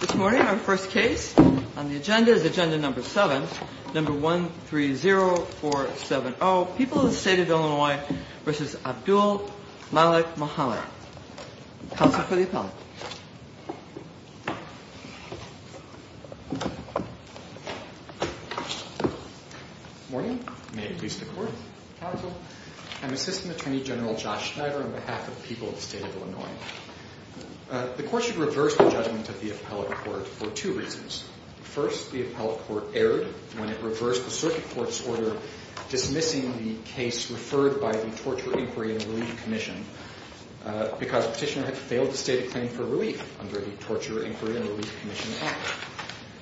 This morning our first case on the agenda is agenda number seven, number 130470, People of the State of Illinois v. Abdul Malik Muhammad. Counsel for the appellant. Morning, may it please the court, counsel. I'm Assistant Attorney General Josh Schneider on behalf of the people of the state of Illinois. The court should reverse the judgment of the appellate court for two reasons. First, the appellate court erred when it reversed the circuit court's order dismissing the case referred by the Torture, Inquiry, and Relief Commission because the petitioner had failed to state a claim for relief under the Torture, Inquiry, and Relief Commission Act.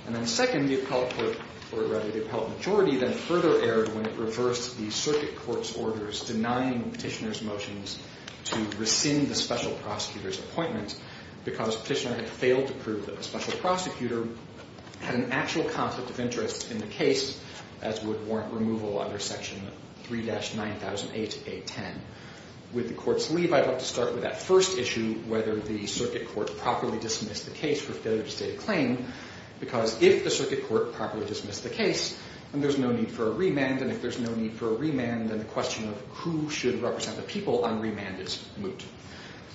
And then second, the appellate court, or rather the appellate majority, then further erred when it reversed the circuit court's orders denying the petitioner's motions to rescind the special prosecutor's appointment because the petitioner had failed to prove that the special prosecutor had an actual conflict of interest in the case, as would warrant removal under section 3-9008A10. With the court's leave, I'd like to start with that first issue, whether the circuit court properly dismissed the case for failure to state a claim, because if the circuit court properly dismissed the case, then there's no need for a remand, and if there's no need for a remand, it's moot.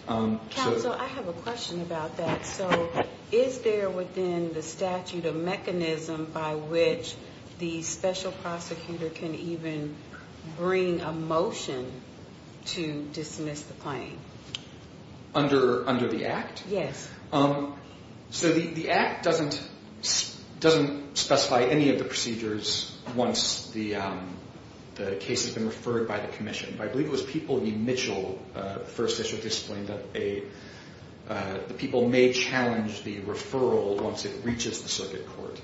Counsel, I have a question about that. So is there within the statute a mechanism by which the special prosecutor can even bring a motion to dismiss the claim? Under the Act? Yes. So the Act doesn't specify any of the procedures once the case has been referred by the commission, but I believe it was People v. Mitchell, the first issue, that the people may challenge the referral once it reaches the circuit court.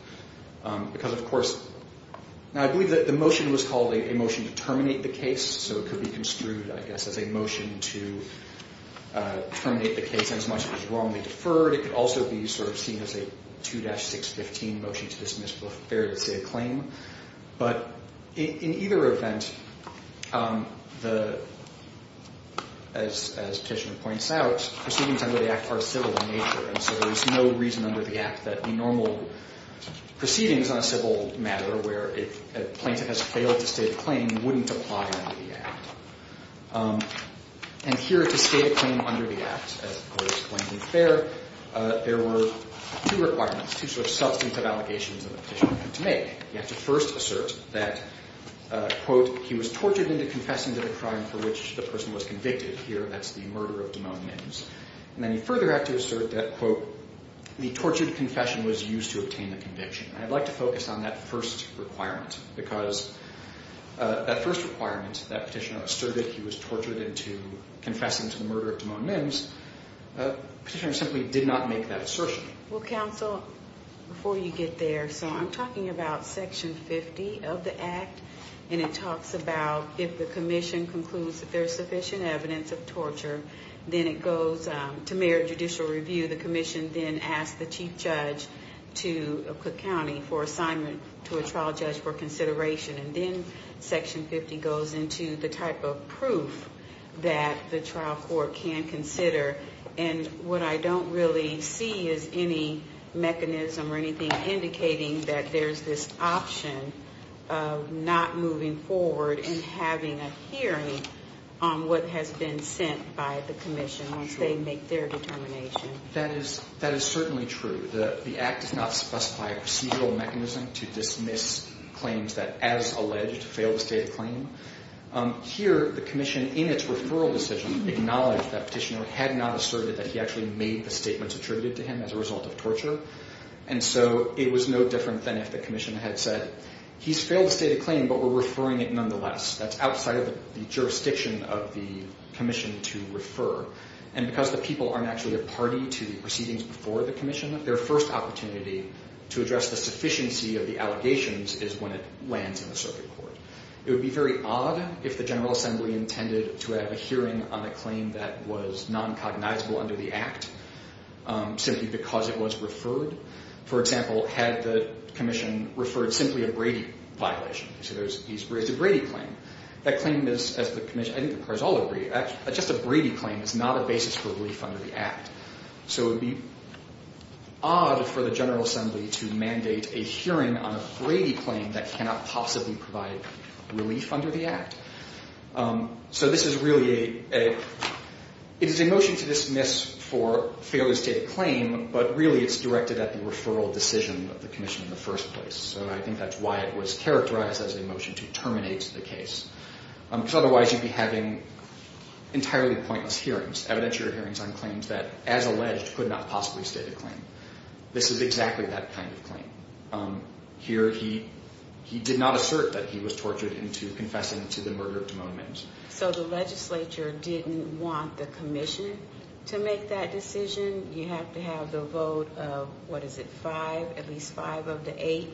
Because, of course, I believe that the motion was called a motion to terminate the case, so it could be construed, I guess, as a motion to terminate the case as much as it was wrongly deferred. It could also be sort of seen as a 2-615 motion to dismiss for failure to say a claim. But in either event, as Petitioner points out, proceedings under the Act are civil in nature, and so there's no reason under the Act that the normal proceedings on a civil matter, where a plaintiff has failed to state a claim, wouldn't apply under the Act. And here, to state a claim under the Act, as was pointed there, there were two requirements, two sort of substantive allegations that the Petitioner had to make. He had to first assert that, quote, he was tortured into confessing to the crime for which the person was convicted. Here, that's the murder of Damone Mims. And then he further had to assert that, quote, the tortured confession was used to obtain the conviction. And I'd like to focus on that first requirement, because that first requirement, that Petitioner asserted he was tortured into confessing to the murder of Damone Mims, Petitioner simply did not make that assertion. Well, counsel, before you get there, so I'm talking about Section 50 of the Act, and it talks about if the commission concludes that there's sufficient evidence of torture, then it goes to merit judicial review. The commission then asks the chief judge to Cook County for assignment to a trial judge for consideration. And then Section 50 goes into the type of proof that the trial court can consider. And what I don't really see is any mechanism or anything indicating that there's this option of not moving forward and having a hearing on what has been sent by the commission once they make their determination. That is certainly true. The Act does not specify a procedural mechanism to dismiss claims that, as alleged, fail to state a claim. Here, the commission, in its referral decision, acknowledged that Petitioner had not asserted that he actually made the statements attributed to him as a result of torture. And so it was no different than if the commission had said, he's failed to state a claim, but we're referring it nonetheless. That's outside of the jurisdiction of the commission to refer. And because the people aren't actually a party to the proceedings before the commission, their first opportunity to address the sufficiency of the allegations is when it lands in the circuit court. It would be very odd if the General Assembly intended to have a hearing on a claim that was non-cognizable under the Act, simply because it was referred. For example, had the commission referred simply a Brady violation. He's raised a Brady claim. That claim is, as the commission, I think the courts all agree, just a Brady claim is not a basis for under the Act. So it would be odd for the General Assembly to mandate a hearing on a Brady claim that cannot possibly provide relief under the Act. So this is really a, it is a motion to dismiss for failure to state a claim, but really it's directed at the referral decision of the commission in the first place. So I think that's why it was characterized as a motion to terminate the case. Otherwise you'd be having entirely pointless hearings, evidentiary hearings on claims that, as alleged, could not possibly state a claim. This is exactly that kind of claim. Here he did not assert that he was tortured into confessing to the murder of Damone Mims. So the legislature didn't want the commission to make that decision. You have to have the vote of, what is it, five, at least five of the eight.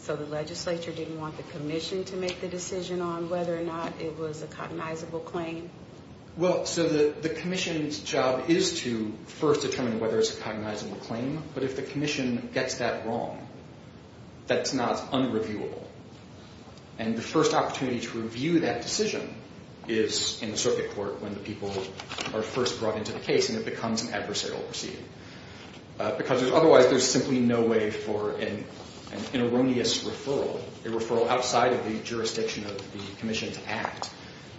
So the legislature didn't want the commission to make the decision on whether or not it was a cognizable claim. Well, so the commission's job is to first determine whether it's a cognizable claim. But if the commission gets that wrong, that's not unreviewable. And the first opportunity to review that decision is in the circuit court when the people are first brought into the case and it becomes an adversarial proceeding. Because the commission's act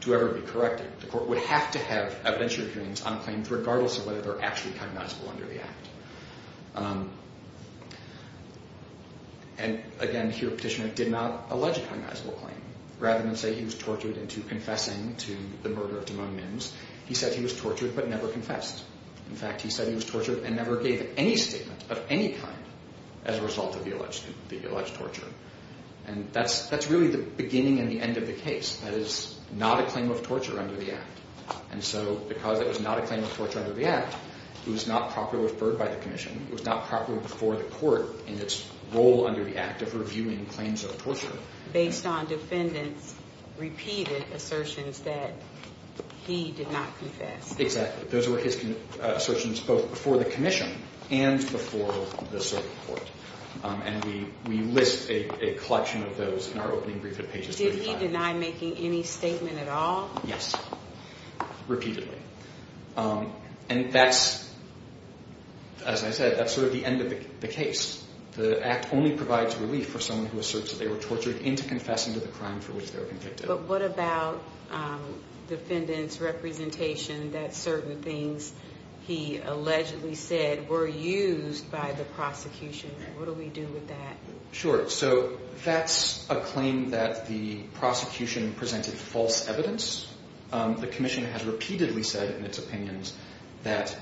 to ever be corrected, the court would have to have evidentiary hearings on claims regardless of whether they're actually cognizable under the act. And again, here Petitioner did not allege a cognizable claim. Rather than say he was tortured into confessing to the murder of Damone Mims, he said he was tortured but never confessed. In fact, he said he was tortured and never gave any statement of any kind as a result of the end of the case. That is not a claim of torture under the act. And so because it was not a claim of torture under the act, it was not properly referred by the commission. It was not properly before the court in its role under the act of reviewing claims of torture. Based on defendants' repeated assertions that he did not confess. Exactly. Those were his assertions both before the commission and before the circuit court. And we list a collection of those in our opening brief at pages 35. Did he deny making any statement at all? Yes. Repeatedly. And that's, as I said, that's sort of the end of the case. The act only provides relief for someone who asserts that they were tortured into confessing to the crime for which they were convicted. But what about defendant's representation that certain things he allegedly said were used by the prosecution? What do we do with that? Sure. So that's a claim that the prosecution presented false evidence. The commission has repeatedly said in its opinions that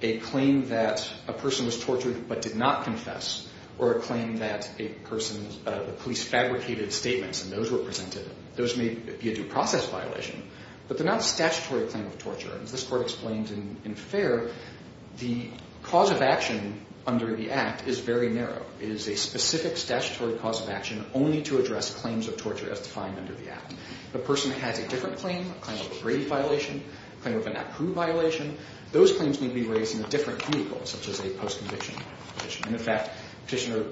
a claim that a person was tortured but did not confess or a claim that a person, the police fabricated statements and those were presented, those may be a due process violation, but they're not statutory claim of torture. As this court explains in Fair, the cause of action under the act is very narrow. It is a specific statutory cause of action only to address claims of torture as defined under the act. The person has a different claim, a claim of a Brady violation, a claim of an approved violation. Those claims may be raised in a different vehicle, such as a post-conviction petition. And in fact, petitioner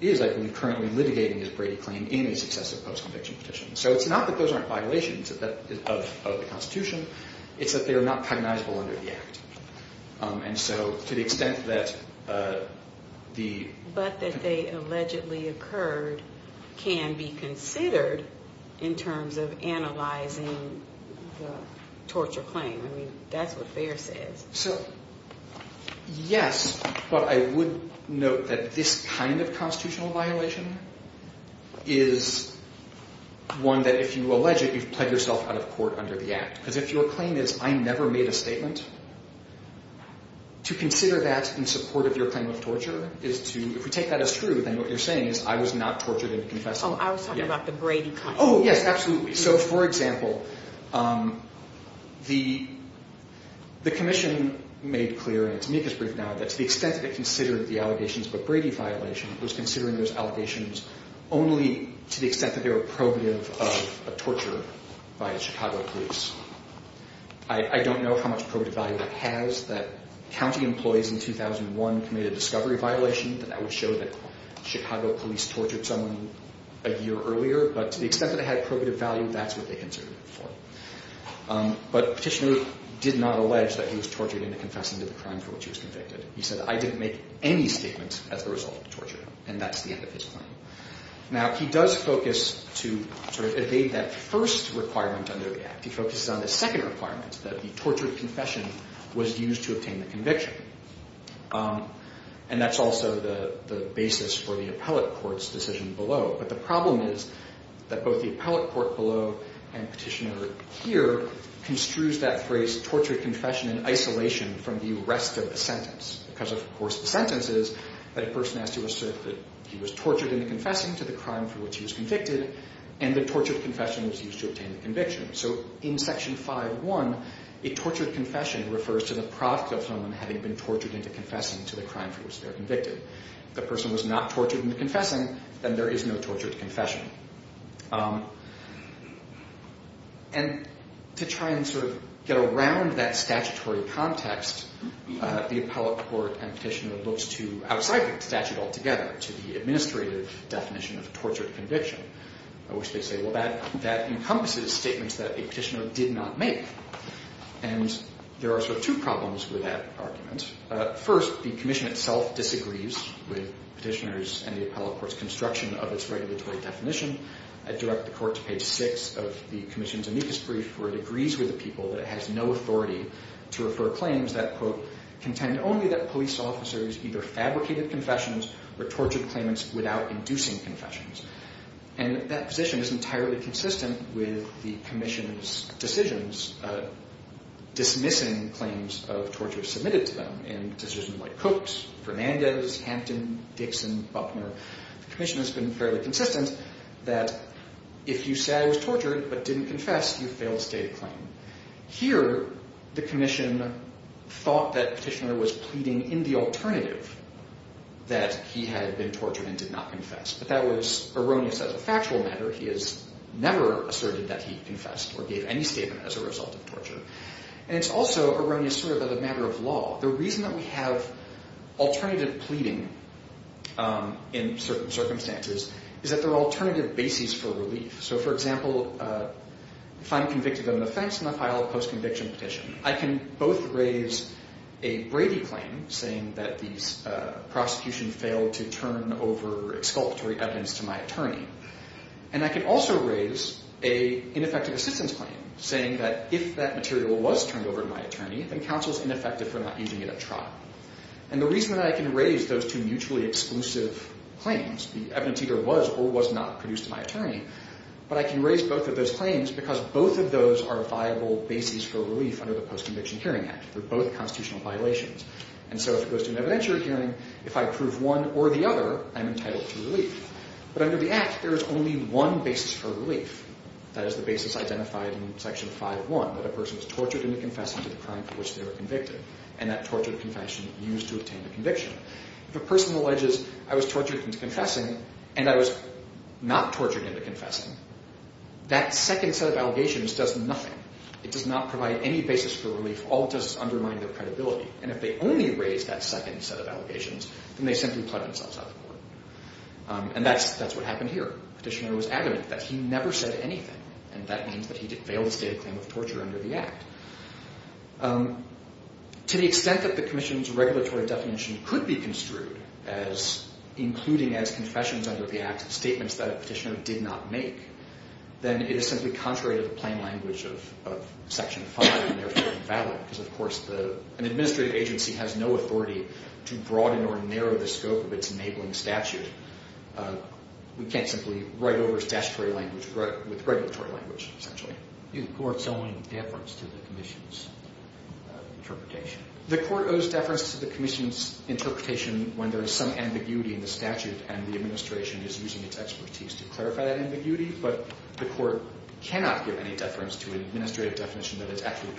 is, I believe, currently litigating his Brady claim in a successive post-conviction petition. So it's not that those aren't violations of the constitution. It's that they are not cognizable under the act. And so to the extent that the... But that they allegedly occurred can be considered in terms of analyzing the torture claim. I mean, that's what Fair says. So yes, but I would note that this kind of constitutional violation is one that if you allege it, you've played yourself out of court under the act. Because if your claim is, I never made a statement, to consider that in support of your claim of torture is to, if we take that as true, then what you're saying is I was not tortured and confessed. Oh, I was talking about the Brady claim. Yes, absolutely. So for example, the commission made clear, and to make this brief now, that to the extent that it considered the allegations of a Brady violation, it was considering those allegations only to the extent that they were probative of a torture by a Chicago police. I don't know how much probative value it has that county employees in 2001 committed a discovery violation. That would show that Chicago police tortured someone a year earlier, but to the extent that it had probative value, that's what they considered it for. But petitioner did not allege that he was tortured into confessing to the crime for which he was convicted. He said, I didn't make any statements as a result of the torture. And that's the end of his claim. Now, he does focus to sort of evade that first requirement under the act. He focuses on the second requirement, that the tortured confession was used to obtain the conviction. And that's also the basis for the appellate court's decision below. But the problem is that both the appellate court below and petitioner here construes that phrase, tortured confession in isolation from the rest of the sentence. Because of course the sentence is that a person has to assert that he was tortured into confessing to the crime for which he was convicted, and the tortured confession was used to obtain the conviction. So in section 5.1, a tortured confession refers to the product of someone having been tortured into confessing to the crime for which they're convicted. If the person was not tortured into confessing, then there is no tortured confession. And to try and sort of get around that statutory context, the appellate court and petitioner looks to outside the statute altogether, to the administrative definition of a tortured conviction. I wish they'd say, well, that encompasses statements that a petitioner did not make. And there are sort of two problems with that argument. First, the commission itself disagrees with petitioners and the appellate court's construction of its regulatory definition. I direct the court to page 6 of the commission's amicus brief, where it agrees with the people that it has no authority to refer claims that, quote, contend only that police officers either fabricated confessions or tortured claimants without inducing confessions. And that position is entirely consistent with the commission's decisions dismissing claims of torture submitted to them. In decisions like Coke's, Fernandez, Hampton, Dixon, Buckner, the commission has been fairly consistent that if you say I was tortured but didn't confess, you fail to state a claim. Here, the commission thought that petitioner was pleading in the alternative that he had been tortured and did not confess. But that was erroneous as a factual matter. He has never asserted that he confessed or gave any statement as a result of torture. And it's also erroneous sort of as a matter of law. The reason that we have alternative pleading in certain circumstances is that there are alternative bases for relief. So for example, if I'm convicted of an offense in the file of post-conviction petition, I can both raise a Brady claim saying that the prosecution failed to turn over exculpatory evidence to my attorney, and I can also raise a ineffective assistance claim saying that if that material was turned over to my attorney, then counsel's ineffective for not using it at trial. And the reason that I can raise those two mutually exclusive claims, the evidence either was or was not produced to my attorney, but I can raise both of those claims because both of those are viable bases for relief under the Post-Conviction Hearing Act. They're both constitutional violations. And so if it goes to an evidentiary hearing, if I prove one or the other, I'm entitled to relief. But under the Act, there is only one basis for relief. That is the basis identified in Section 5.1, that a person was tortured into confessing to the crime for which they were convicted, and that tortured confession used to obtain the conviction. If a person alleges, I was tortured into confessing, and I was not tortured into confessing, that second set of allegations does nothing. It does not provide any basis for relief. All it does is undermine their credibility. And if they only raise that second set of allegations, then they simply pledge themselves out the court. And that's what happened here. Petitioner was adamant that he never said anything, and that means that he failed to state a claim of torture under the Act. To the extent that the Commission's regulatory definition could be construed as including as confessions under the Act statements that a petitioner did not make, then it is simply contrary to the plain language of Section 5 and therefore invalid. Because of course, an administrative agency has no authority to broaden or narrow the scope of its enabling statute. We can't simply write over statutory language with regulatory language, essentially. Is the Court's own deference to the Commission's interpretation? The Court owes deference to the Commission's interpretation when there is some ambiguity in the statute, and the administration is using its expertise to clarify that ambiguity. But the Court cannot give any deference to an administrative definition that is actually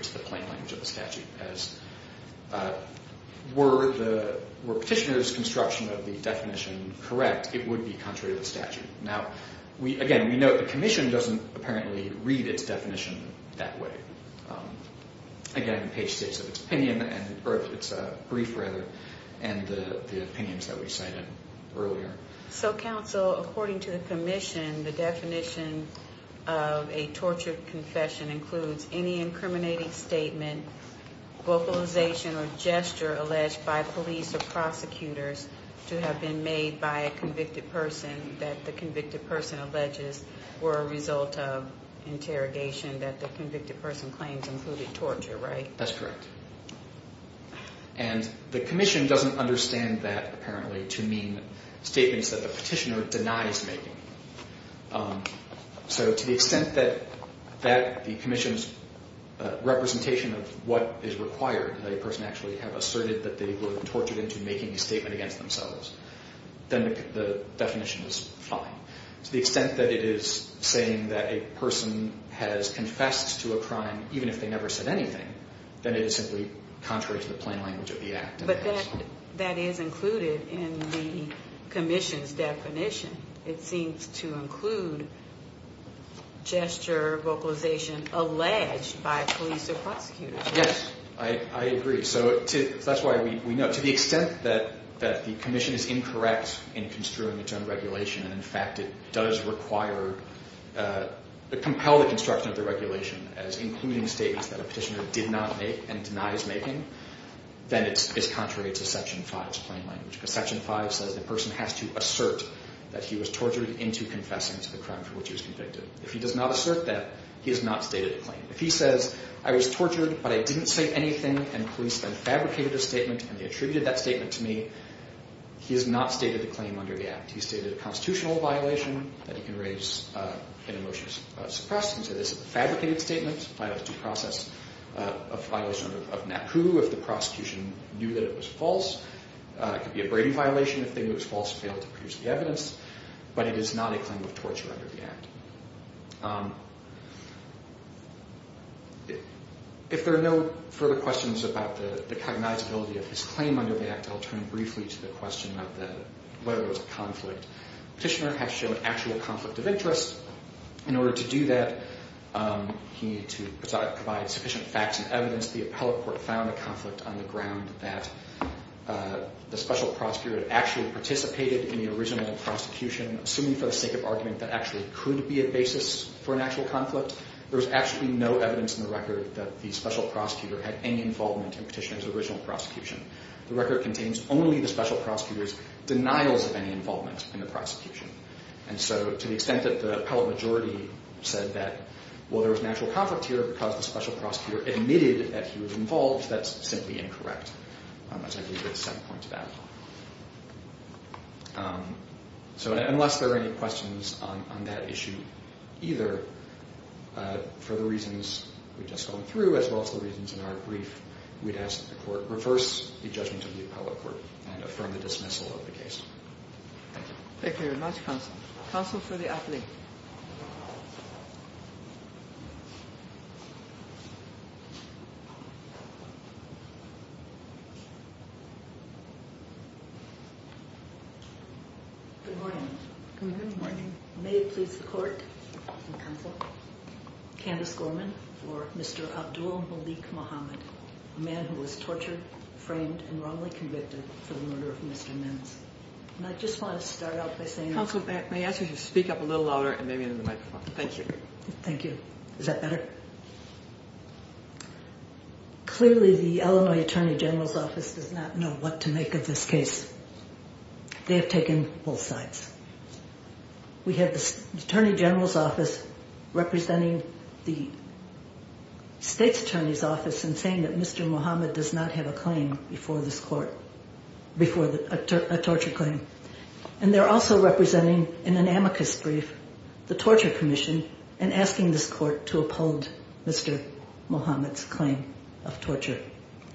to the plain language of the statute. As were petitioner's construction of the definition correct, it would be contrary to the statute. Now, again, we know that the Commission doesn't apparently read its definition that way. Again, Page states its brief and the opinions that we cited earlier. So, Counsel, according to the Commission, the definition of a tortured confession includes any incriminating statement, vocalization, or gesture alleged by police or prosecutors to have been made by a convicted person that the convicted person alleges were a result of interrogation that the convicted person claims included torture, right? That's correct. And the Commission doesn't understand that, apparently, to mean statements that the petitioner denies making. So, to the extent that the Commission's representation of what is required, that a person actually have asserted that they were tortured into making a statement against themselves, then the definition is fine. To the extent that it is saying that a person has confessed to a crime, even if they never said anything, then it is simply contrary to the plain language of the act. But that is included in the Commission's definition. It seems to include gesture, vocalization, alleged by police or prosecutors. Yes, I agree. So, that's why we know. To the extent that the Commission is incorrect in construing its own regulation, and in fact it does require, compel the construction of the regulation as including statements that a petitioner did not make and denies making, then it is contrary to Section 5's plain language. Because Section 5 says the person has to assert that he was tortured into confessing to the crime for which he was convicted. If he does not assert that, he has not stated a claim. If he says, I was tortured, but I didn't say anything, and police then fabricated a statement, and they attributed that statement to me, he has not stated the claim under the act. He stated a constitutional violation that he can raise in a motion of suppression, so this is a fabricated statement by the due process of violation of NACU if the prosecution knew that it was false. It could be a Brady violation if they knew it was false and failed to produce the evidence, but it is not a claim of torture under the act. If there are no further questions about the cognizability of his claim under the act, I'll turn briefly to the question of whether it was a conflict. Petitioner had to show an actual conflict of interest. In order to do that, he needed to provide sufficient facts and evidence. The appellate court found a conflict on the ground that the special prosecutor had actually participated in the original prosecution, assuming for the sake of argument that actually could be a basis for an actual conflict. There was actually no evidence in the record that the special prosecutor had any involvement in Petitioner's original prosecution. The record contains only the special prosecutor's denials of any involvement in the prosecution. And so, to the extent that the appellate majority said that, well, there was an actual conflict here because the special prosecutor admitted that he was involved, that's simply incorrect, as I believe there's some point to that. So, unless there are any questions on that issue either, for the reasons we've just gone through as well as the questions in our brief, we'd ask that the court reverse the judgment of the appellate court and affirm the dismissal of the case. Thank you. Thank you very much, counsel. Counsel for the appellate. Good morning. Good morning. May it please the court and counsel. Candace Gorman for Mr. Abdul-Malik Mohamed, a man who was tortured, framed, and wrongly convicted for the murder of Mr. Menz. And I just want to start out by saying- Counsel, may I ask you to speak up a little louder and maybe into the microphone? Thank you. Thank you. Is that better? Clearly, the Illinois Attorney General's Office does not know what to make of this case. They have taken both sides. We have the Attorney General's Office representing the state's attorney's office and saying that Mr. Mohamed does not have a claim before this court, a torture claim. And they're also representing, in an amicus brief, the Torture Commission and asking this court to uphold Mr. Mohamed's claim of torture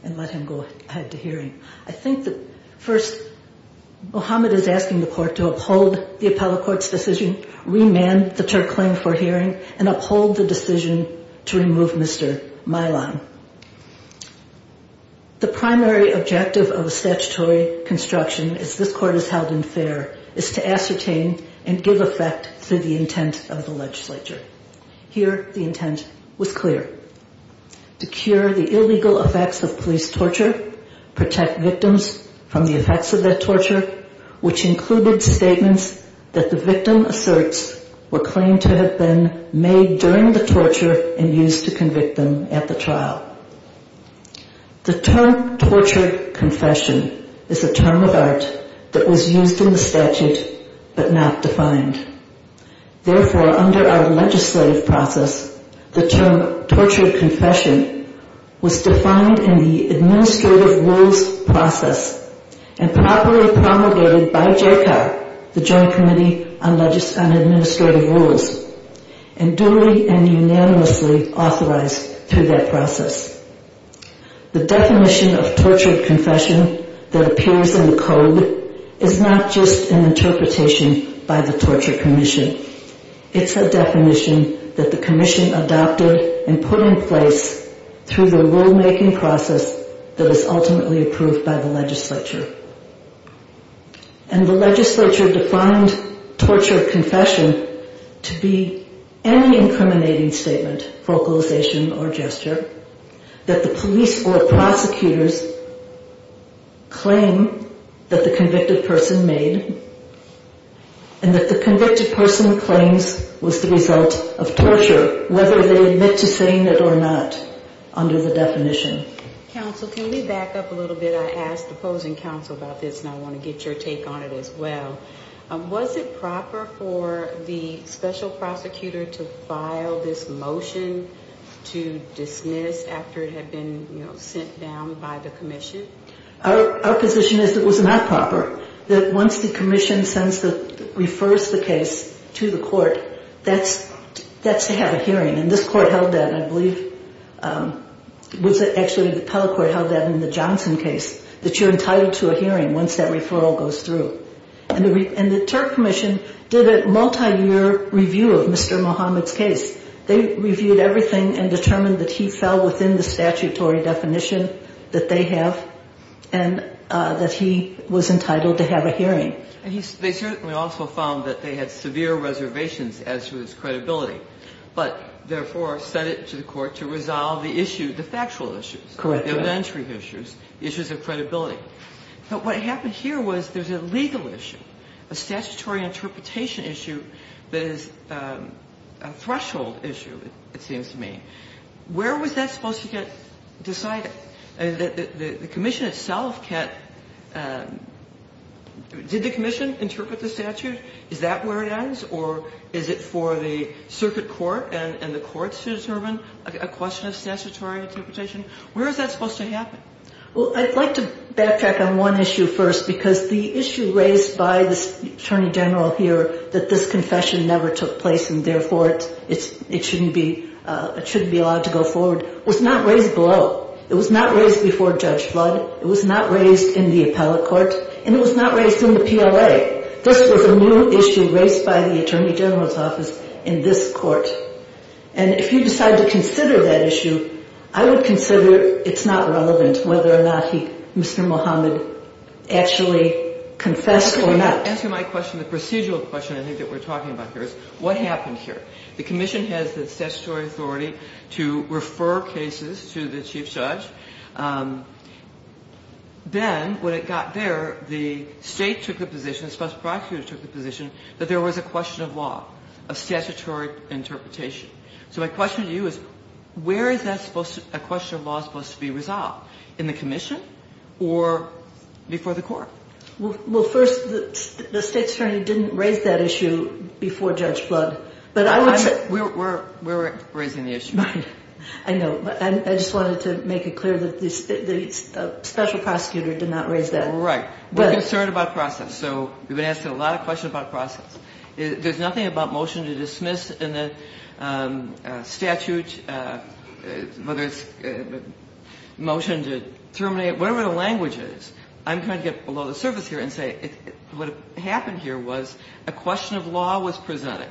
and let him go ahead to hearing. I think that first, Mohamed is asking the court to uphold the appellate court's decision, remand the tort claim for hearing, and uphold the decision to remove Mr. Milon. The primary objective of a statutory construction, as this court has held in fair, is to ascertain and give effect to the intent of the legislature. Here, the intent was clear. To cure the illegal effects of police torture, protect victims from the effects of that torture, which included statements that the victim asserts were claimed to have been made during the torture and used to convict them at the trial. The term torture confession is a term of art that was used in the statute but not defined. Therefore, under our legislative process, the term torture confession was defined in the administrative rules process and properly promulgated by JCOC, the Joint Committee on Administrative Rules, and duly and unanimously authorized through that process. The definition of torture confession that appears in the code is not just an interpretation by the through the rulemaking process that was ultimately approved by the legislature. And the legislature defined torture confession to be any incriminating statement, vocalization, or gesture that the police or prosecutors claim that the convicted person made and that the convicted person claims was the result of torture, whether they admit to saying it or not under the definition. Counsel, can we back up a little bit? I asked the opposing counsel about this and I want to get your take on it as well. Was it proper for the special prosecutor to file this motion to dismiss after it had been sent down by the commission? Our position is it was not proper. Once the commission sends the, refers the case to the court, that's to have a hearing and this court held that I believe, was it actually the Pell Court held that in the Johnson case, that you're entitled to a hearing once that referral goes through. And the Turk Commission did a multi-year review of Mr. Muhammad's case. They reviewed everything and determined that he fell within the statutory definition that they have and that he was entitled to have a hearing. And they certainly also found that they had severe reservations as to his credibility, but therefore sent it to the court to resolve the issue, the factual issues, the evidentiary issues, the issues of credibility. But what happened here was there's a legal issue, a statutory interpretation issue that is a threshold issue, it seems to me. Where was that supposed to get decided? The commission itself can't, did the commission interpret the statute? Is that where it ends? Or is it for the circuit court and the courts to determine a question of statutory interpretation? Where is that supposed to happen? Well, I'd like to backtrack on one issue first because the issue raised by the attorney general here that this confession never took place and therefore it shouldn't be allowed to go forward was not raised below. It was not raised before Judge Flood. It was not raised in the appellate court. And it was not raised in the PLA. This was a new issue raised by the attorney general's office in this court. And if you decide to consider that issue, I would consider it's not relevant whether or not he, Mr. Muhammad, actually confessed or not. Answer my question. The procedural question I think that we're talking about here is what happened here? The commission has the statutory authority to refer cases to the chief judge. Then when it got there, the state took the position, the special prosecutor took the position that there was a question of law, of statutory interpretation. So my question to you is where is that supposed to, a question of law supposed to be resolved? In the commission or before the court? Well, first, the state's attorney didn't raise that issue before Judge Flood. We're raising the issue. I know, but I just wanted to make it clear that the special prosecutor did not raise that. Right. We're concerned about process. So we've been asked a lot of questions about process. There's nothing about motion to dismiss in the statute, whether it's a motion to terminate, whatever the language is. I'm trying to get below the surface here and what happened here was a question of law was presented.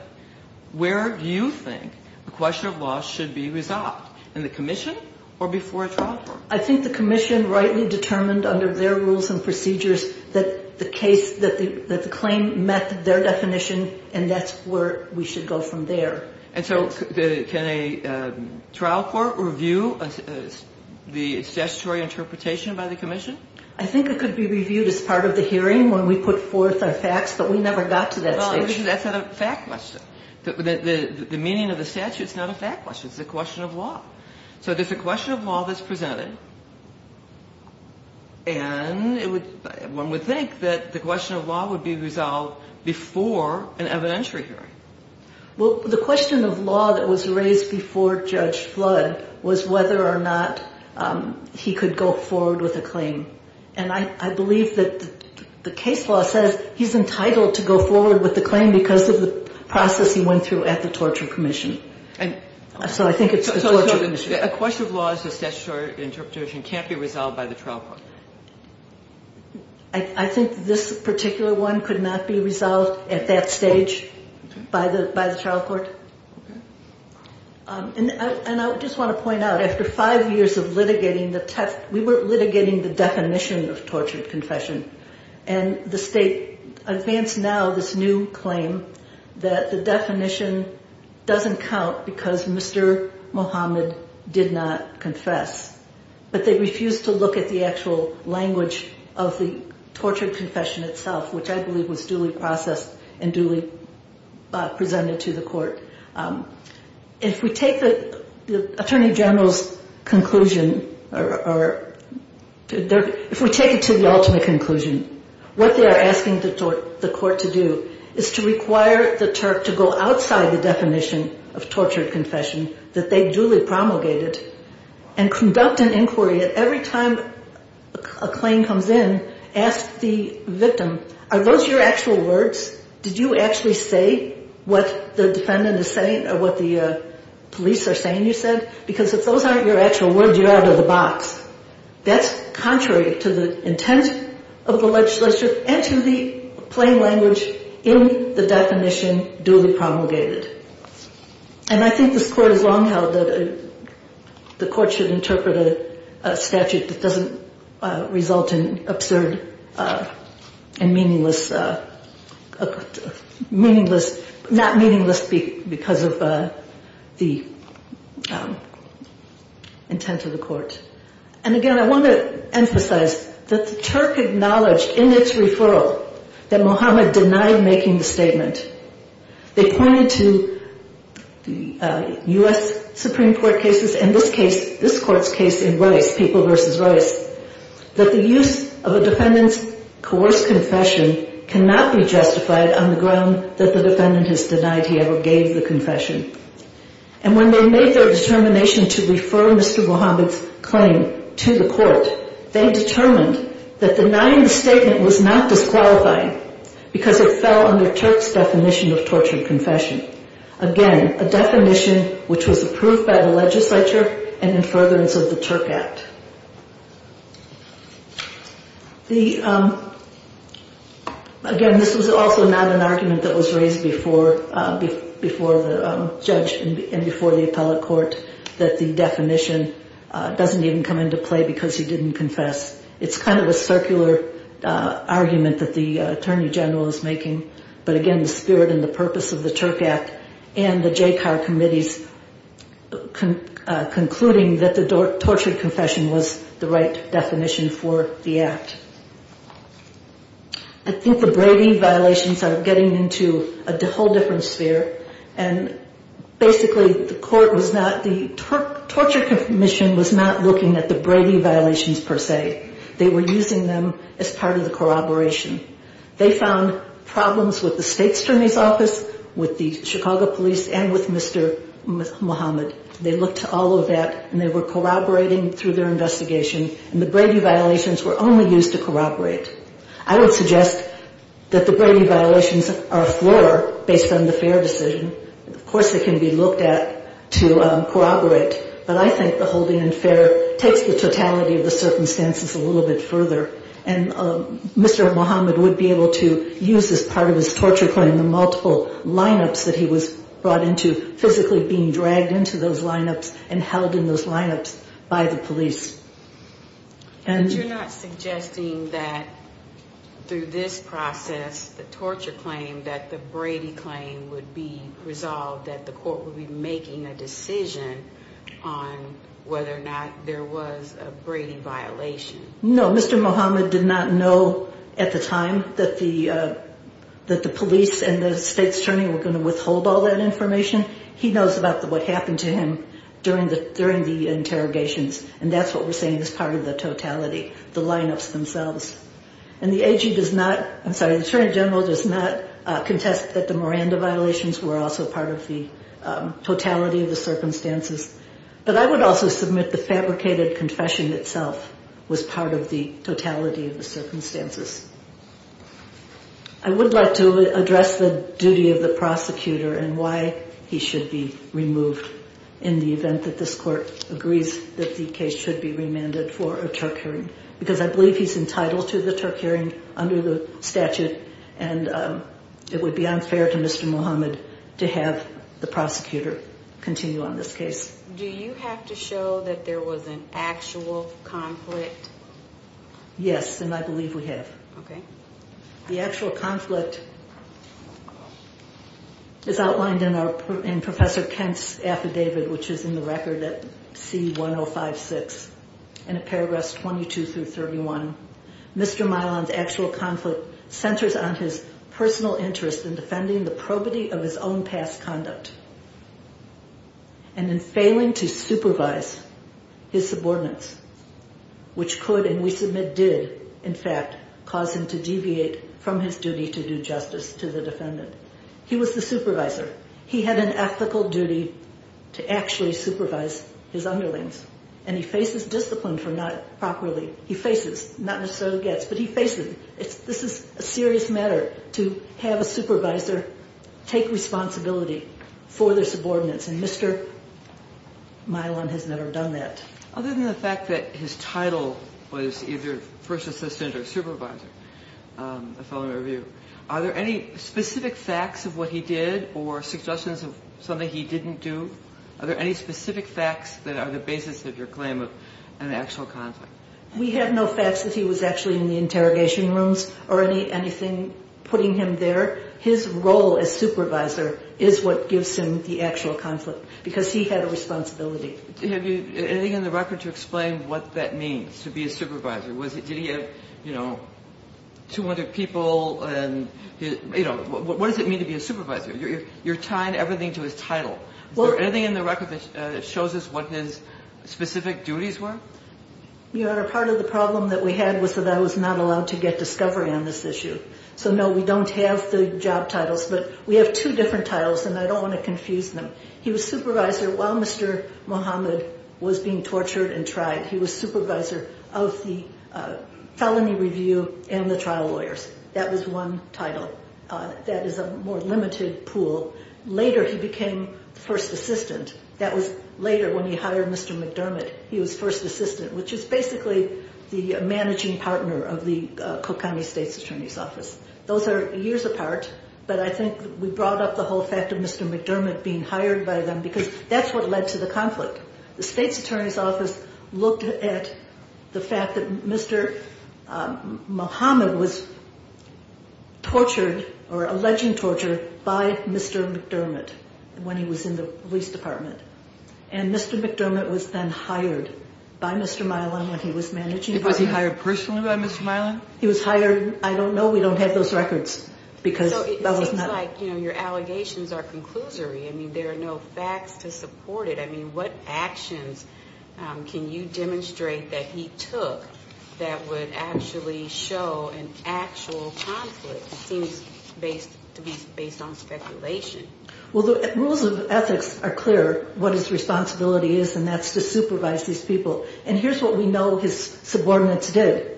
Where do you think a question of law should be resolved? In the commission or before a trial court? I think the commission rightly determined under their rules and procedures that the claim met their definition and that's where we should go from there. And so can a trial court review the statutory interpretation by the commission? I think it could be reviewed as part of the hearing when we put forth our facts, but we never got to that stage. That's not a fact question. The meaning of the statute is not a fact question. It's a question of law. So there's a question of law that's presented and one would think that the question of law would be resolved before an evidentiary hearing. Well, the question of law that was raised before Judge Flood was whether or not he could go forward with a claim. And I believe that the case law says he's entitled to go forward with the claim because of the process he went through at the Torture Commission. So I think it's the Torture Commission. So a question of law as a statutory interpretation can't be resolved by the trial court? I think this particular one could not be resolved at that stage by the trial court. And I just want to point out after five years of litigating the text, we were litigating the definition of tortured confession and the state advanced now this new claim that the definition doesn't count because Mr. Mohammed did not confess. But they refused to look at the actual language of the tortured confession itself, which I believe was duly processed and duly presented to the court. If we take the Attorney General's conclusion, if we take it to the ultimate conclusion, what they are asking the court to do is to require the Turk to go outside the definition of tortured confession that they duly promulgated and conduct an inquiry at every time a claim comes in, ask the victim, are those your actual words? Did you actually say what the defendant is saying or what the police are saying you said? Because if those aren't your actual words, you're out of the box. That's contrary to the intent of the legislature and to the plain language in the definition duly promulgated. And I think this court has long held that the court should interpret a statute that doesn't result in absurd and meaningless, not meaningless because of the intent of the court. And again, I want to emphasize that the Turk acknowledged in its referral that Mohammed denied making the statement. They pointed to the U.S. Supreme Court cases and this court's case in Rice, People v. Rice, that the use of a defendant's coerced confession cannot be justified on the ground that the defendant has denied he ever gave the confession. And when they made their determination to refer Mr. Mohammed's claim to the court, they determined that denying the statement was not disqualifying because it fell under Turk's definition of tortured confession. Again, a definition which was approved by the legislature and in furtherance of the Turk Act. Again, this was also not an argument that was raised before the judge and before the appellate court that the definition doesn't even come into play because he didn't confess. It's kind of a circular argument that the attorney general is making. But again, the spirit and the purpose of the Turk Act and the JCAR committees concluding that the tortured confession was the right definition for the act. I think the Brady violations are getting into a whole different sphere. And basically the court was not, the torture commission was not looking at the Brady violations per se. They were using them as part of the corroboration. They found problems with the state attorney's office, with the Chicago police and with Mr. Mohammed. They looked to all of that and they were corroborating through their investigation. And the Brady violations were only used to corroborate. I would suggest that the Brady violations are a floor based on the fair decision. Of course, it can be looked at to corroborate. But I think the holding unfair takes the totality of the circumstances a little bit further. And Mr. Mohammed would be able to use this part of his torture claim, the multiple lineups that he was brought into, physically being dragged into those lineups and held in those lineups by the police. And you're not suggesting that through this process, the torture claim, that the Brady claim would be resolved, that the court would be making a decision on whether or not there was a Brady violation? No, Mr. Mohammed did not know at the time that the police and the state attorney were going to withhold all that information. He knows about what happened to him during the interrogations. And that's what we're saying is part of the totality, the lineups themselves. And the AG does not, I'm sorry, the attorney general does not contest that the Miranda violations were also part of the totality of the circumstances. But I would also submit the fabricated confession itself was part of the totality of the circumstances. I would like to address the duty of the prosecutor and why he should be removed in the event that this court agrees that the case should be remanded for a Turk hearing, because I believe he's entitled to the Turk hearing under the statute and it would be unfair to Mr. Mohammed to have the prosecutor continue on this case. Do you have to show that there was an actual conflict? Yes, and I believe we have. Okay. The actual conflict is outlined in our, in Professor Kent's affidavit, which is in the record at C1056 and at paragraphs 22 through 31. Mr. Milan's actual conflict centers on his personal interest in defending the probity of his own past conduct and in failing to supervise his subordinates, which could, and we submit did in fact, cause him to deviate from his duty to do justice to the defendant. He was the supervisor. He had an ethical duty to actually supervise his underlings, and he faces discipline for not properly. He faces, not necessarily gets, but he faces. This is a serious matter to have a supervisor take responsibility for their subordinates, and Mr. Milan has never done that. Other than the fact that his title was either first assistant or supervisor, the following review, are there any specific facts of what he did or suggestions of something he didn't do? Are there any specific facts that are the basis of your claim of an actual conflict? We have no facts that he was actually in the interrogation rooms or anything putting him there. His role as supervisor is what gives him the actual conflict because he had a responsibility. Do you have anything in the record to explain what that means to be a supervisor? Was it, you know, 200 people and, you know, what does it mean to be a supervisor? You're tying everything to his title. Is there anything in the record that shows us what his specific duties were? Your Honor, part of the problem that we had was that I was not allowed to get discovery on this issue. So no, we don't have the job titles, but we have two different titles, and I don't want to confuse them. He was supervisor while Mr. Muhammad was being tortured and tried. He was supervisor of the felony review and the trial lawyers. That was one title. That is a more limited pool. Later, he became first assistant. That was later when he hired Mr. McDermott. He was first assistant, which is basically the managing partner of the Cook County State's Attorney's Office. Those are years apart, but I think we brought up the whole fact of Mr. McDermott being hired by them because that's what led to the conflict. The State's Attorney's Office looked at the fact that Mr. Muhammad was tortured or alleged torture by Mr. McDermott when he was in the police department, and Mr. McDermott was then hired by Mr. Milan when he was managing partner. Was he hired personally by Mr. Milan? He was hired. I don't know. We don't have those records because that was not... So it seems like, you know, your can you demonstrate that he took that would actually show an actual conflict. It seems to be based on speculation. Well, the rules of ethics are clear what his responsibility is, and that's to supervise these people. And here's what we know his subordinates did.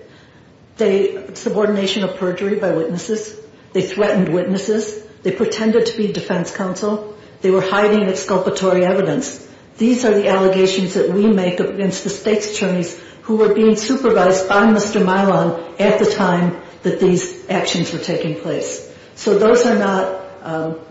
Subordination of perjury by witnesses. They threatened witnesses. They pretended to be counsel. They were hiding exculpatory evidence. These are the allegations that we make against the state's attorneys who were being supervised by Mr. Milan at the time that these actions were taking place. So those are not...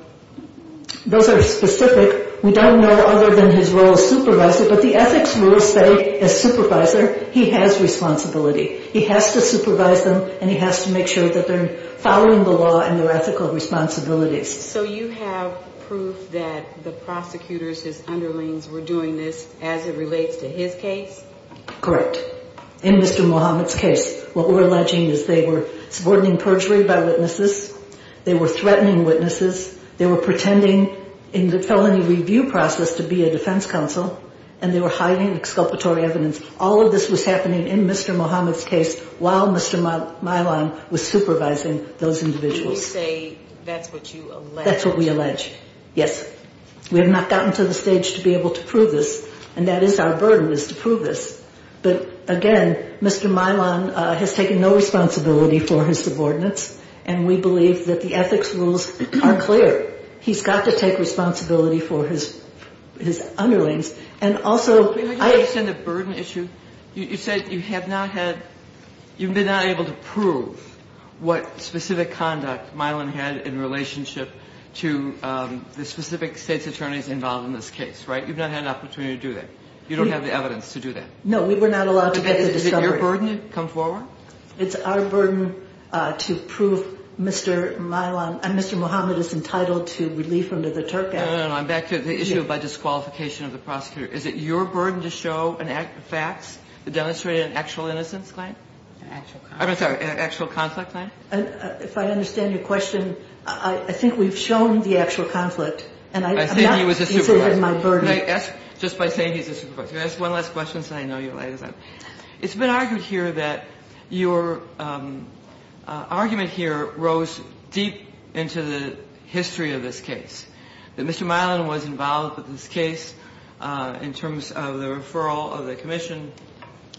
Those are specific. We don't know other than his role as supervisor, but the ethics rules say as supervisor, he has responsibility. He has to supervise them, and he has to make sure that they're following the law and their ethical responsibilities. So you have proof that the prosecutors, his underlings, were doing this as it relates to his case? Correct. In Mr. Mohamed's case, what we're alleging is they were subordinating perjury by witnesses. They were threatening witnesses. They were pretending in the felony review process to be a defense counsel, and they were hiding exculpatory evidence. All of this was happening in Mr. Mohamed's case while Mr. Milan was supervising those individuals. You say that's what you allege. That's what we allege. Yes. We have not gotten to the stage to be able to prove this, and that is our burden, is to prove this. But, again, Mr. Milan has taken no responsibility for his subordinates, and we believe that the ethics rules are clear. He's got to take responsibility for his underlings. And also, I... Wait a minute. Do you understand the burden issue? You said you have not had... You've been not able to prove what specific conduct Milan had in relationship to the specific state's attorneys involved in this case, right? You've not had an opportunity to do that. You don't have the evidence to do that. No, we were not allowed to get the discovery. Is it your burden to come forward? It's our burden to prove Mr. Milan... Mr. Mohamed is entitled to relief under the Turk Act. No, no, no. I'm back to the issue by disqualification of the prosecutor. Is it your burden to show facts that demonstrate an actual innocence claim? An actual... I'm sorry. An actual conflict claim? If I understand your question, I think we've shown the actual conflict, and I'm not... I think he was a supervisor. He said my burden... Can I ask, just by saying he's a supervisor, can I ask one last question, so I know you're laying this out? It's been argued here that your argument here rose deep into the history of this case, that Mr. Milan was involved with this case in terms of the referral of the commission,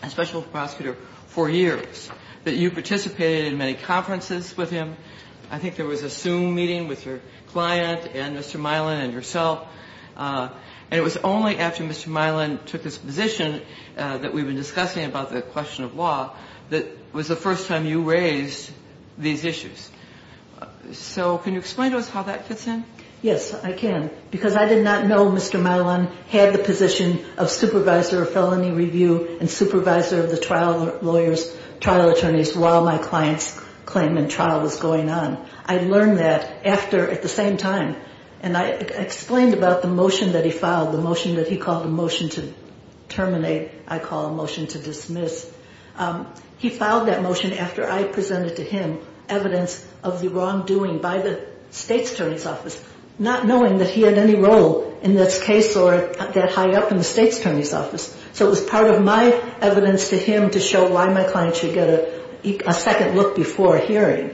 especially the referral of the prosecutor, for years, that you participated in many conferences with him. I think there was a Zoom meeting with your client and Mr. Milan and yourself. And it was only after Mr. Milan took his position that we've been discussing about the question of law that was the first time you raised these issues. So can you explain to us how that fits in? Yes, I can. Because I did not know Mr. Milan had the position of supervisor of felony review and supervisor of the trial lawyers, trial attorneys, while my client's claim and trial was going on. I learned that after, at the same time. And I explained about the motion that he filed, the motion that he called the motion to terminate, I call a motion to dismiss. He filed that motion after I presented to him evidence of the wrongdoing by the state's attorney's office, not knowing that he had any role in this case or that he was high up in the state's attorney's office. So it was part of my evidence to him to show why my client should get a second look before a hearing.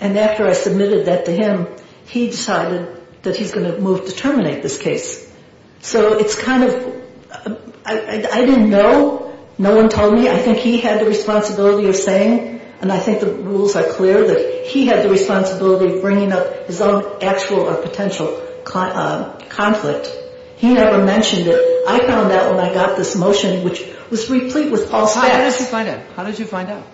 And after I submitted that to him, he decided that he's going to move to terminate this case. So it's kind of, I didn't know. No one told me. I think he had the responsibility of saying, and I think the rules are clear, that he had the responsibility of bringing up his own actual or potential conflict. He never mentioned it. I found out when I got this motion, which was replete with false facts. How did you find out?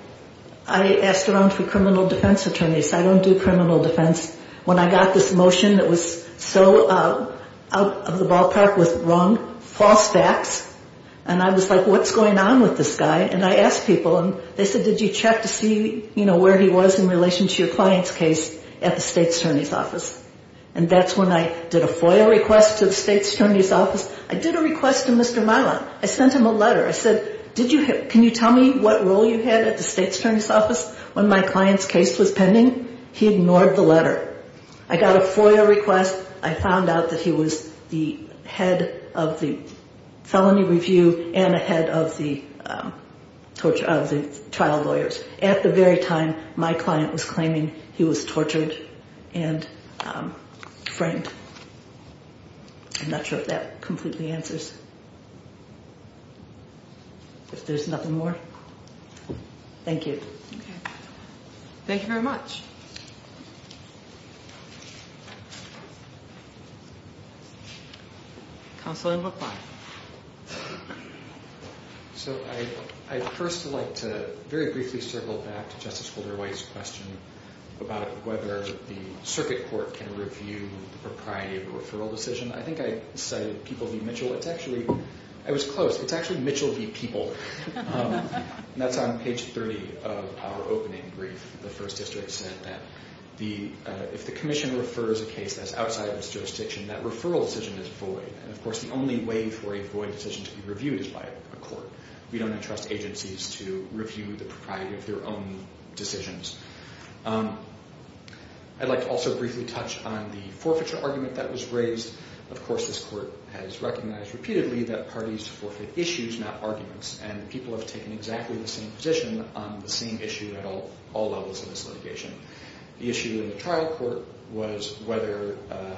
I asked around for criminal defense attorneys. I don't do criminal defense. When I got this motion that was so out of the ballpark with wrong, false facts, and I was like, what's going on with this guy? And I asked people and they said, did you check to see where he was in relation to your client's case at the state's attorney's office? And that's when I did a FOIA request to the state's attorney's office. I did a request to Mr. Milan. I sent him a letter. I said, can you tell me what role you had at the state's attorney's office when my client's case was pending? He ignored the letter. I got a FOIA request. I found out that he was the head of the felony review and a head of the trial lawyers. At the very time, my client was claiming he was the head of the trial lawyers. I'm not sure if that completely answers. If there's nothing more. Thank you. Okay. Thank you very much. Counselor Lapline. So I first would like to very briefly circle back to Justice Holder White's question about whether the referral decision, I think I cited People v. Mitchell. It's actually, I was close. It's actually Mitchell v. People. That's on page 30 of our opening brief. The first district said that if the commission refers a case that's outside of its jurisdiction, that referral decision is void. And of course, the only way for a void decision to be reviewed is by a court. We don't entrust agencies to review the propriety of their own decisions. I'd like to also briefly touch on the forfeiture argument that was raised. Of course, this court has recognized repeatedly that parties forfeit issues, not arguments. And people have taken exactly the same position on the same issue at all levels of this litigation. The issue in the trial court was whether the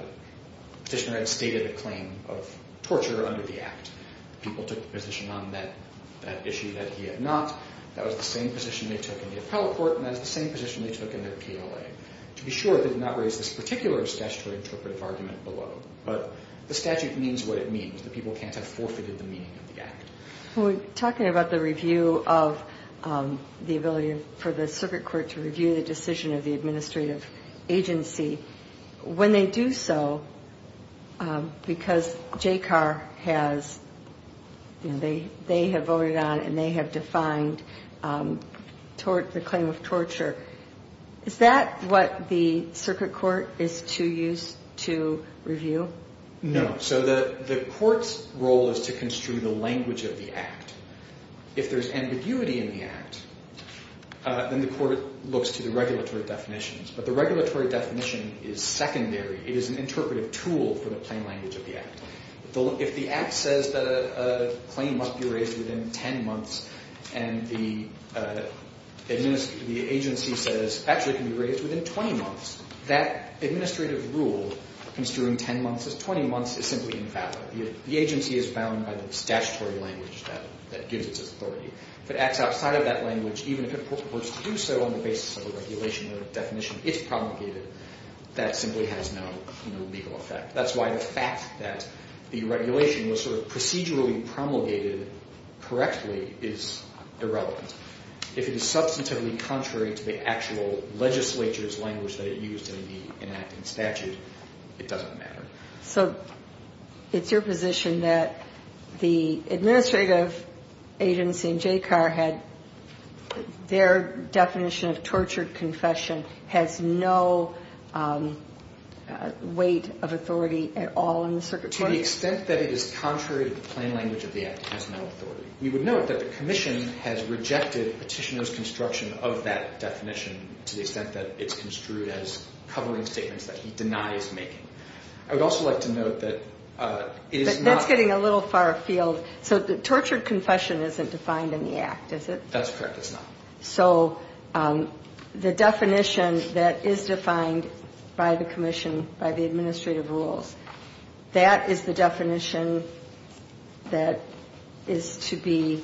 petitioner had stated a claim of torture under the act. People took the position on that issue that he had not. That was the same position they took in the appellate court, and that was the same position they took in their PLA. To be sure, they did not raise this statutory interpretive argument below. But the statute means what it means. The people can't have forfeited the meaning of the act. We're talking about the review of the ability for the circuit court to review the decision of the administrative agency. When they do so, because JCAR has, you know, they have voted on and they have defined the claim of abuse to review? No. So the court's role is to construe the language of the act. If there's ambiguity in the act, then the court looks to the regulatory definitions. But the regulatory definition is secondary. It is an interpretive tool for the plain language of the act. If the act says that a claim must be raised within 10 months and the agency says, actually, it can be raised within 20 months, that administrative rule construing 10 months as 20 months is simply invalid. The agency is bound by the statutory language that gives its authority. If it acts outside of that language, even if it purports to do so on the basis of the regulation or the definition it's promulgated, that simply has no legal effect. That's why the fact that the regulation was sort of procedurally promulgated correctly is irrelevant. If it is substantively contrary to the actual legislature's language that it used in the enacting statute, it doesn't matter. So it's your position that the administrative agency in JCAR had their definition of tortured confession has no weight of authority at all in the circuit court? To the extent that it is contrary to the plain language of the act, it has no authority. We would note that the commission to the extent that it's construed as covering statements that he denies making. I would also like to note that it is not... That's getting a little far afield. So tortured confession isn't defined in the act, is it? That's correct, it's not. So the definition that is defined by the commission, by the administrative rules, that is the definition that is to be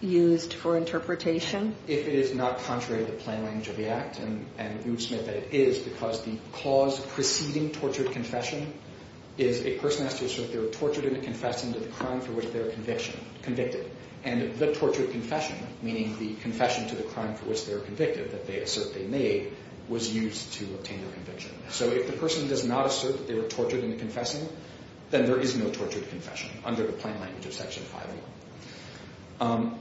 used for interpretation? If it is not contrary to the plain language of the act, and we would submit that it is, because the clause preceding tortured confession is a person has to assert they were tortured in the confessing to the crime for which they were convicted. And the tortured confession, meaning the confession to the crime for which they were convicted that they assert they made, was used to obtain their conviction. So if the person does not assert that they were tortured in the confessing, then there is no tortured confession under the plain language of Section 5.1.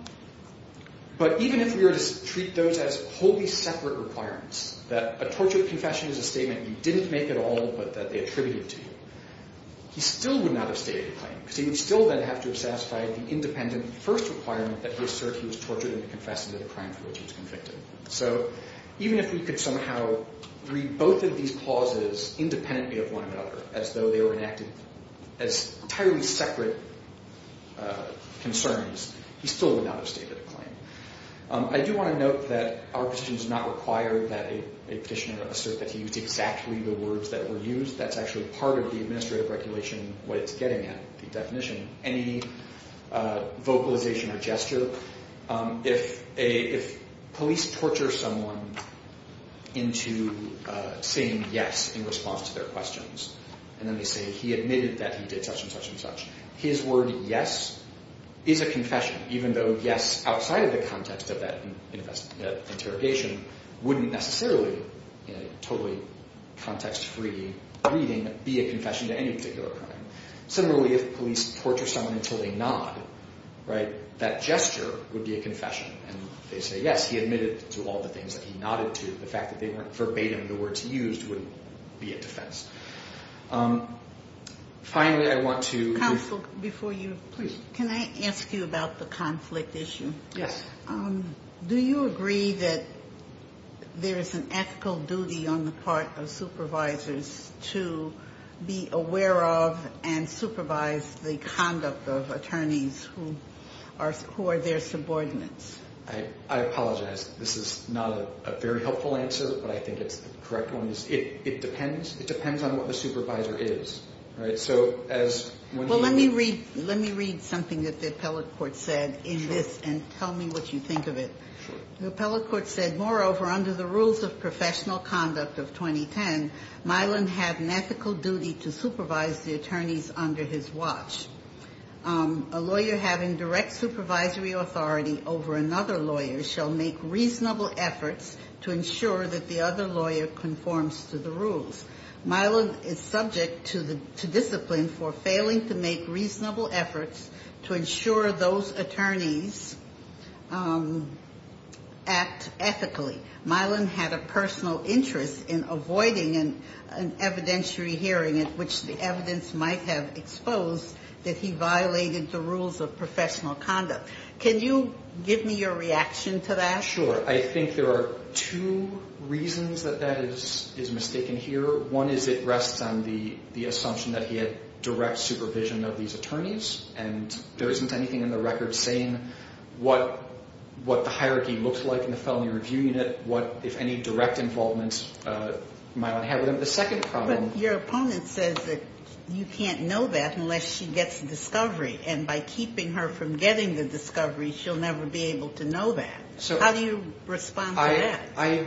But even if we were to treat those as wholly separate requirements, that a tortured confession is a statement you didn't make at all, but that they attributed to you, he still would not have stated the claim, because he would still then have to have satisfied the independent first requirement that he assert he was tortured in the confessing to the crime for which he was convicted. So even if we could somehow read both of these clauses independently of one another, as though they were enacted as entirely separate concerns, he still would not have stated a claim. I do want to note that our position does not require that a petitioner assert that he used exactly the words that were used. That's actually part of the administrative regulation, what it's getting at, the definition. Any vocalization or gesture, if police torture someone into saying yes in response to their questions, and then they say he admitted that he did such and such and such, his word yes is a confession, even though yes outside of the context of that interrogation wouldn't necessarily, in a totally context-free reading, be a confession to any particular crime. Similarly, if police torture someone until they nod, that gesture would be a confession. And if they say yes, he admitted to all the things that he nodded to, the fact that they weren't verbatim the words he used wouldn't be a defense. Finally, I want to... Can I ask you about the conflict issue? Yes. Do you agree that there is an ethical duty on the part of supervisors to be aware of and supervise the conduct of attorneys who are their subordinates? I apologize. This is not a very helpful answer, but I think it's the correct one. It depends on what the supervisor is. Let me read something that the appellate court said in this, and tell me what you think of it. The appellate court said, moreover, under the rules of professional conduct of 2010, Milan had an ethical duty to supervise the attorneys under his watch. A lawyer having direct supervisory authority over another lawyer shall make reasonable efforts to ensure that the other lawyer conforms to the rules. Milan is subject to discipline for failing to make reasonable efforts to ensure those attorneys act ethically. Milan had a personal interest in avoiding an evidentiary hearing at which the evidence might have exposed that he violated the rules of professional conduct. Can you give me your reaction to that? Sure. I think there are two reasons that that is mistaken here. One is it rests on the assumption that he had direct supervision of these attorneys, and there isn't anything in the record saying what the hierarchy looks like in the felony review unit, what, if any, direct involvement Milan had with them. But your opponent says that you can't know that unless she gets the discovery, and by keeping her from getting the discovery, she'll never be able to know that. How do you respond to that?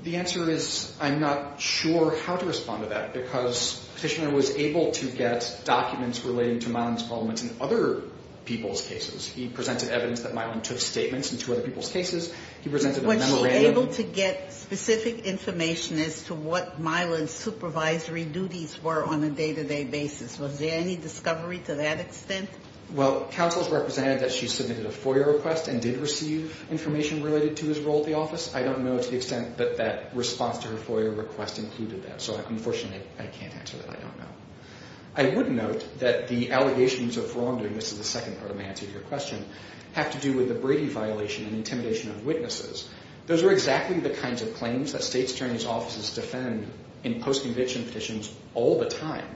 The answer is I'm not sure how to respond to that, because Petitioner was able to get documents relating to Milan's involvement in other people's cases. He presented evidence that Milan took statements into other people's cases. Was she able to get specific information as to what Milan's supervisory duties were on a day-to-day basis? Was there any discovery to that extent? Well, counsels represented that she submitted a FOIA request and did receive information related to his role at the office. I don't know to the extent that that response to her FOIA request included that, so unfortunately I can't answer that. I don't know. I would note that the allegations of wrongdoing, this is the second part of my answer to your question, have to do with the Brady violation and intimidation of witnesses. Those are exactly the kinds of claims that State's Attorney's offices defend in post-conviction petitions all the time.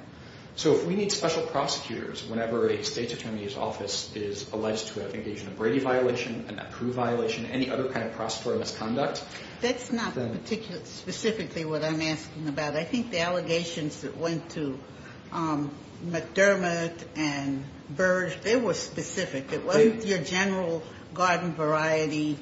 So if we need special prosecutors whenever a State's Attorney's office is alleged to have engaged in a Brady violation, an approved violation, any other kind of prosecutorial misconduct... That's not specifically what I'm asking about. I think the allegations that went to McDermott and Burge, they were specific. It wasn't your general garden variety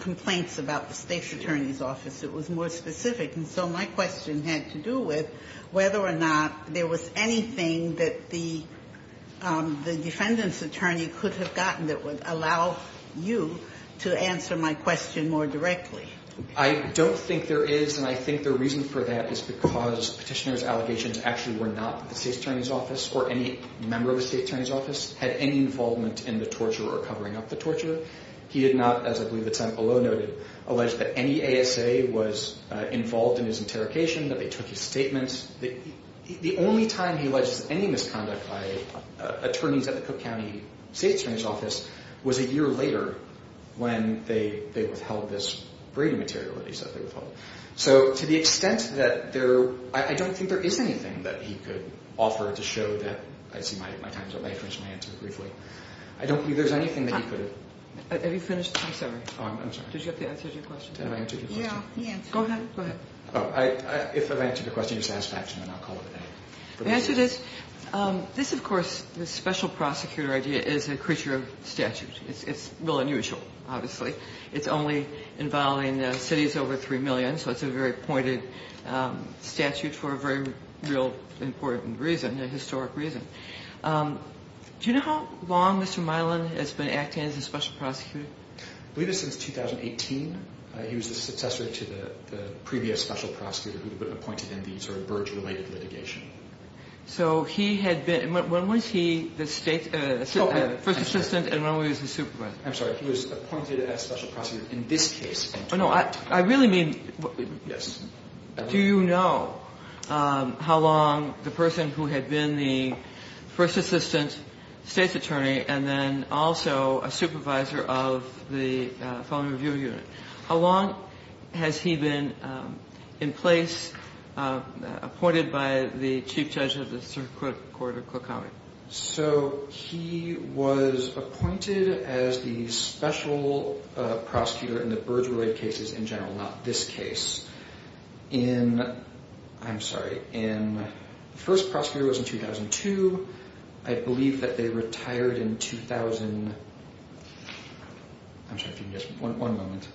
complaints about the State's Attorney's office. It was more specific, and so my question had to do with whether or not there was anything that the defendant's attorney could have gotten that would allow you to answer my question more directly. I don't think there is, and I think the reason for that is because petitioner's allegations actually were not at the State's Attorney's office or any member of the State's Attorney's office had any involvement in the torture or covering up the torture. He did not, as I believe it's below noted, allege that any ASA was involved in his interrogation, that they took his statements. The only time he alleges any misconduct by attorneys at the Cook County State's Attorney's office was a year later when they withheld this Brady material that he said they withheld. So, to the extent that there, I don't think there is anything that he could offer to show that, I see my time's up, may I finish my answer briefly? I don't believe there's anything that he could have... Have you finished? I'm sorry. Oh, I'm sorry. Did you get the answer to your question? Yeah, the answer. Go ahead. If I've answered your question, you're satisfaction, and I'll call it a day. To answer this, this, of course, this special prosecutor idea is a creature of statute. It's real unusual, obviously. It's only involving cities over 3 million, so it's a very pointed statute for a very real important reason, a historic reason. Do you know how long Mr. Milan has been acting as a special prosecutor? I believe it's since 2018. He was the successor to the previous special prosecutor who had been appointed in the sort of Burge-related litigation. So, he had been... When was he the first assistant and when was he the supervisor? I'm sorry, he was appointed as special prosecutor in this case. Oh, no, I really mean... Do you know how long the person who had been the first assistant state's attorney and then also a supervisor of the felony review unit, how long has he been in place, appointed by the chief judge of the circuit court of Cook County? So, he was appointed as the special prosecutor in the Burge-related cases in general, not this case. I'm sorry. The first prosecutor was in 2002. I believe that they retired in 2000... I'm sorry, if you can just... One moment.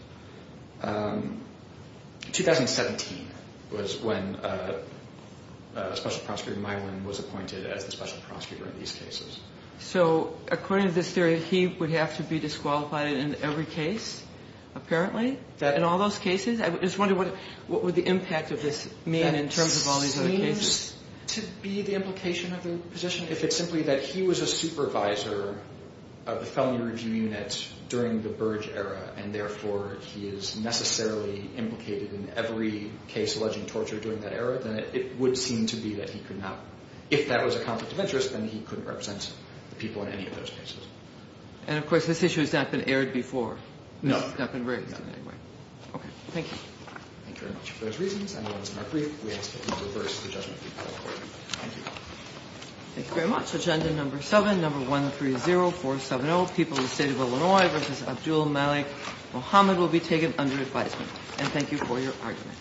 2017 was when special prosecutor Milan was appointed as the special prosecutor in these cases. So, according to this theory, he would have to be disqualified in every case, apparently? In all those cases? I just wonder what would the impact of this mean in terms of all these other cases? That seems to be the implication of the position, if it's simply that he was a supervisor of the felony review unit during the Burge era and, therefore, he is necessarily implicated in every case alleging torture during that era, then it would seem to be that he could not... If that was a conflict of interest, then he couldn't represent the people in any of those cases. And, of course, this issue has not been aired before. No. It's not been raised in any way. Okay. Thank you. Thank you very much. For those reasons, I move this matter brief. We ask that you reverse the judgment. Thank you very much. Agenda No. 7, No. 130470, People of the State of Illinois v. Abdul Malik Mohammed will be taken under advisement. And thank you for your argument.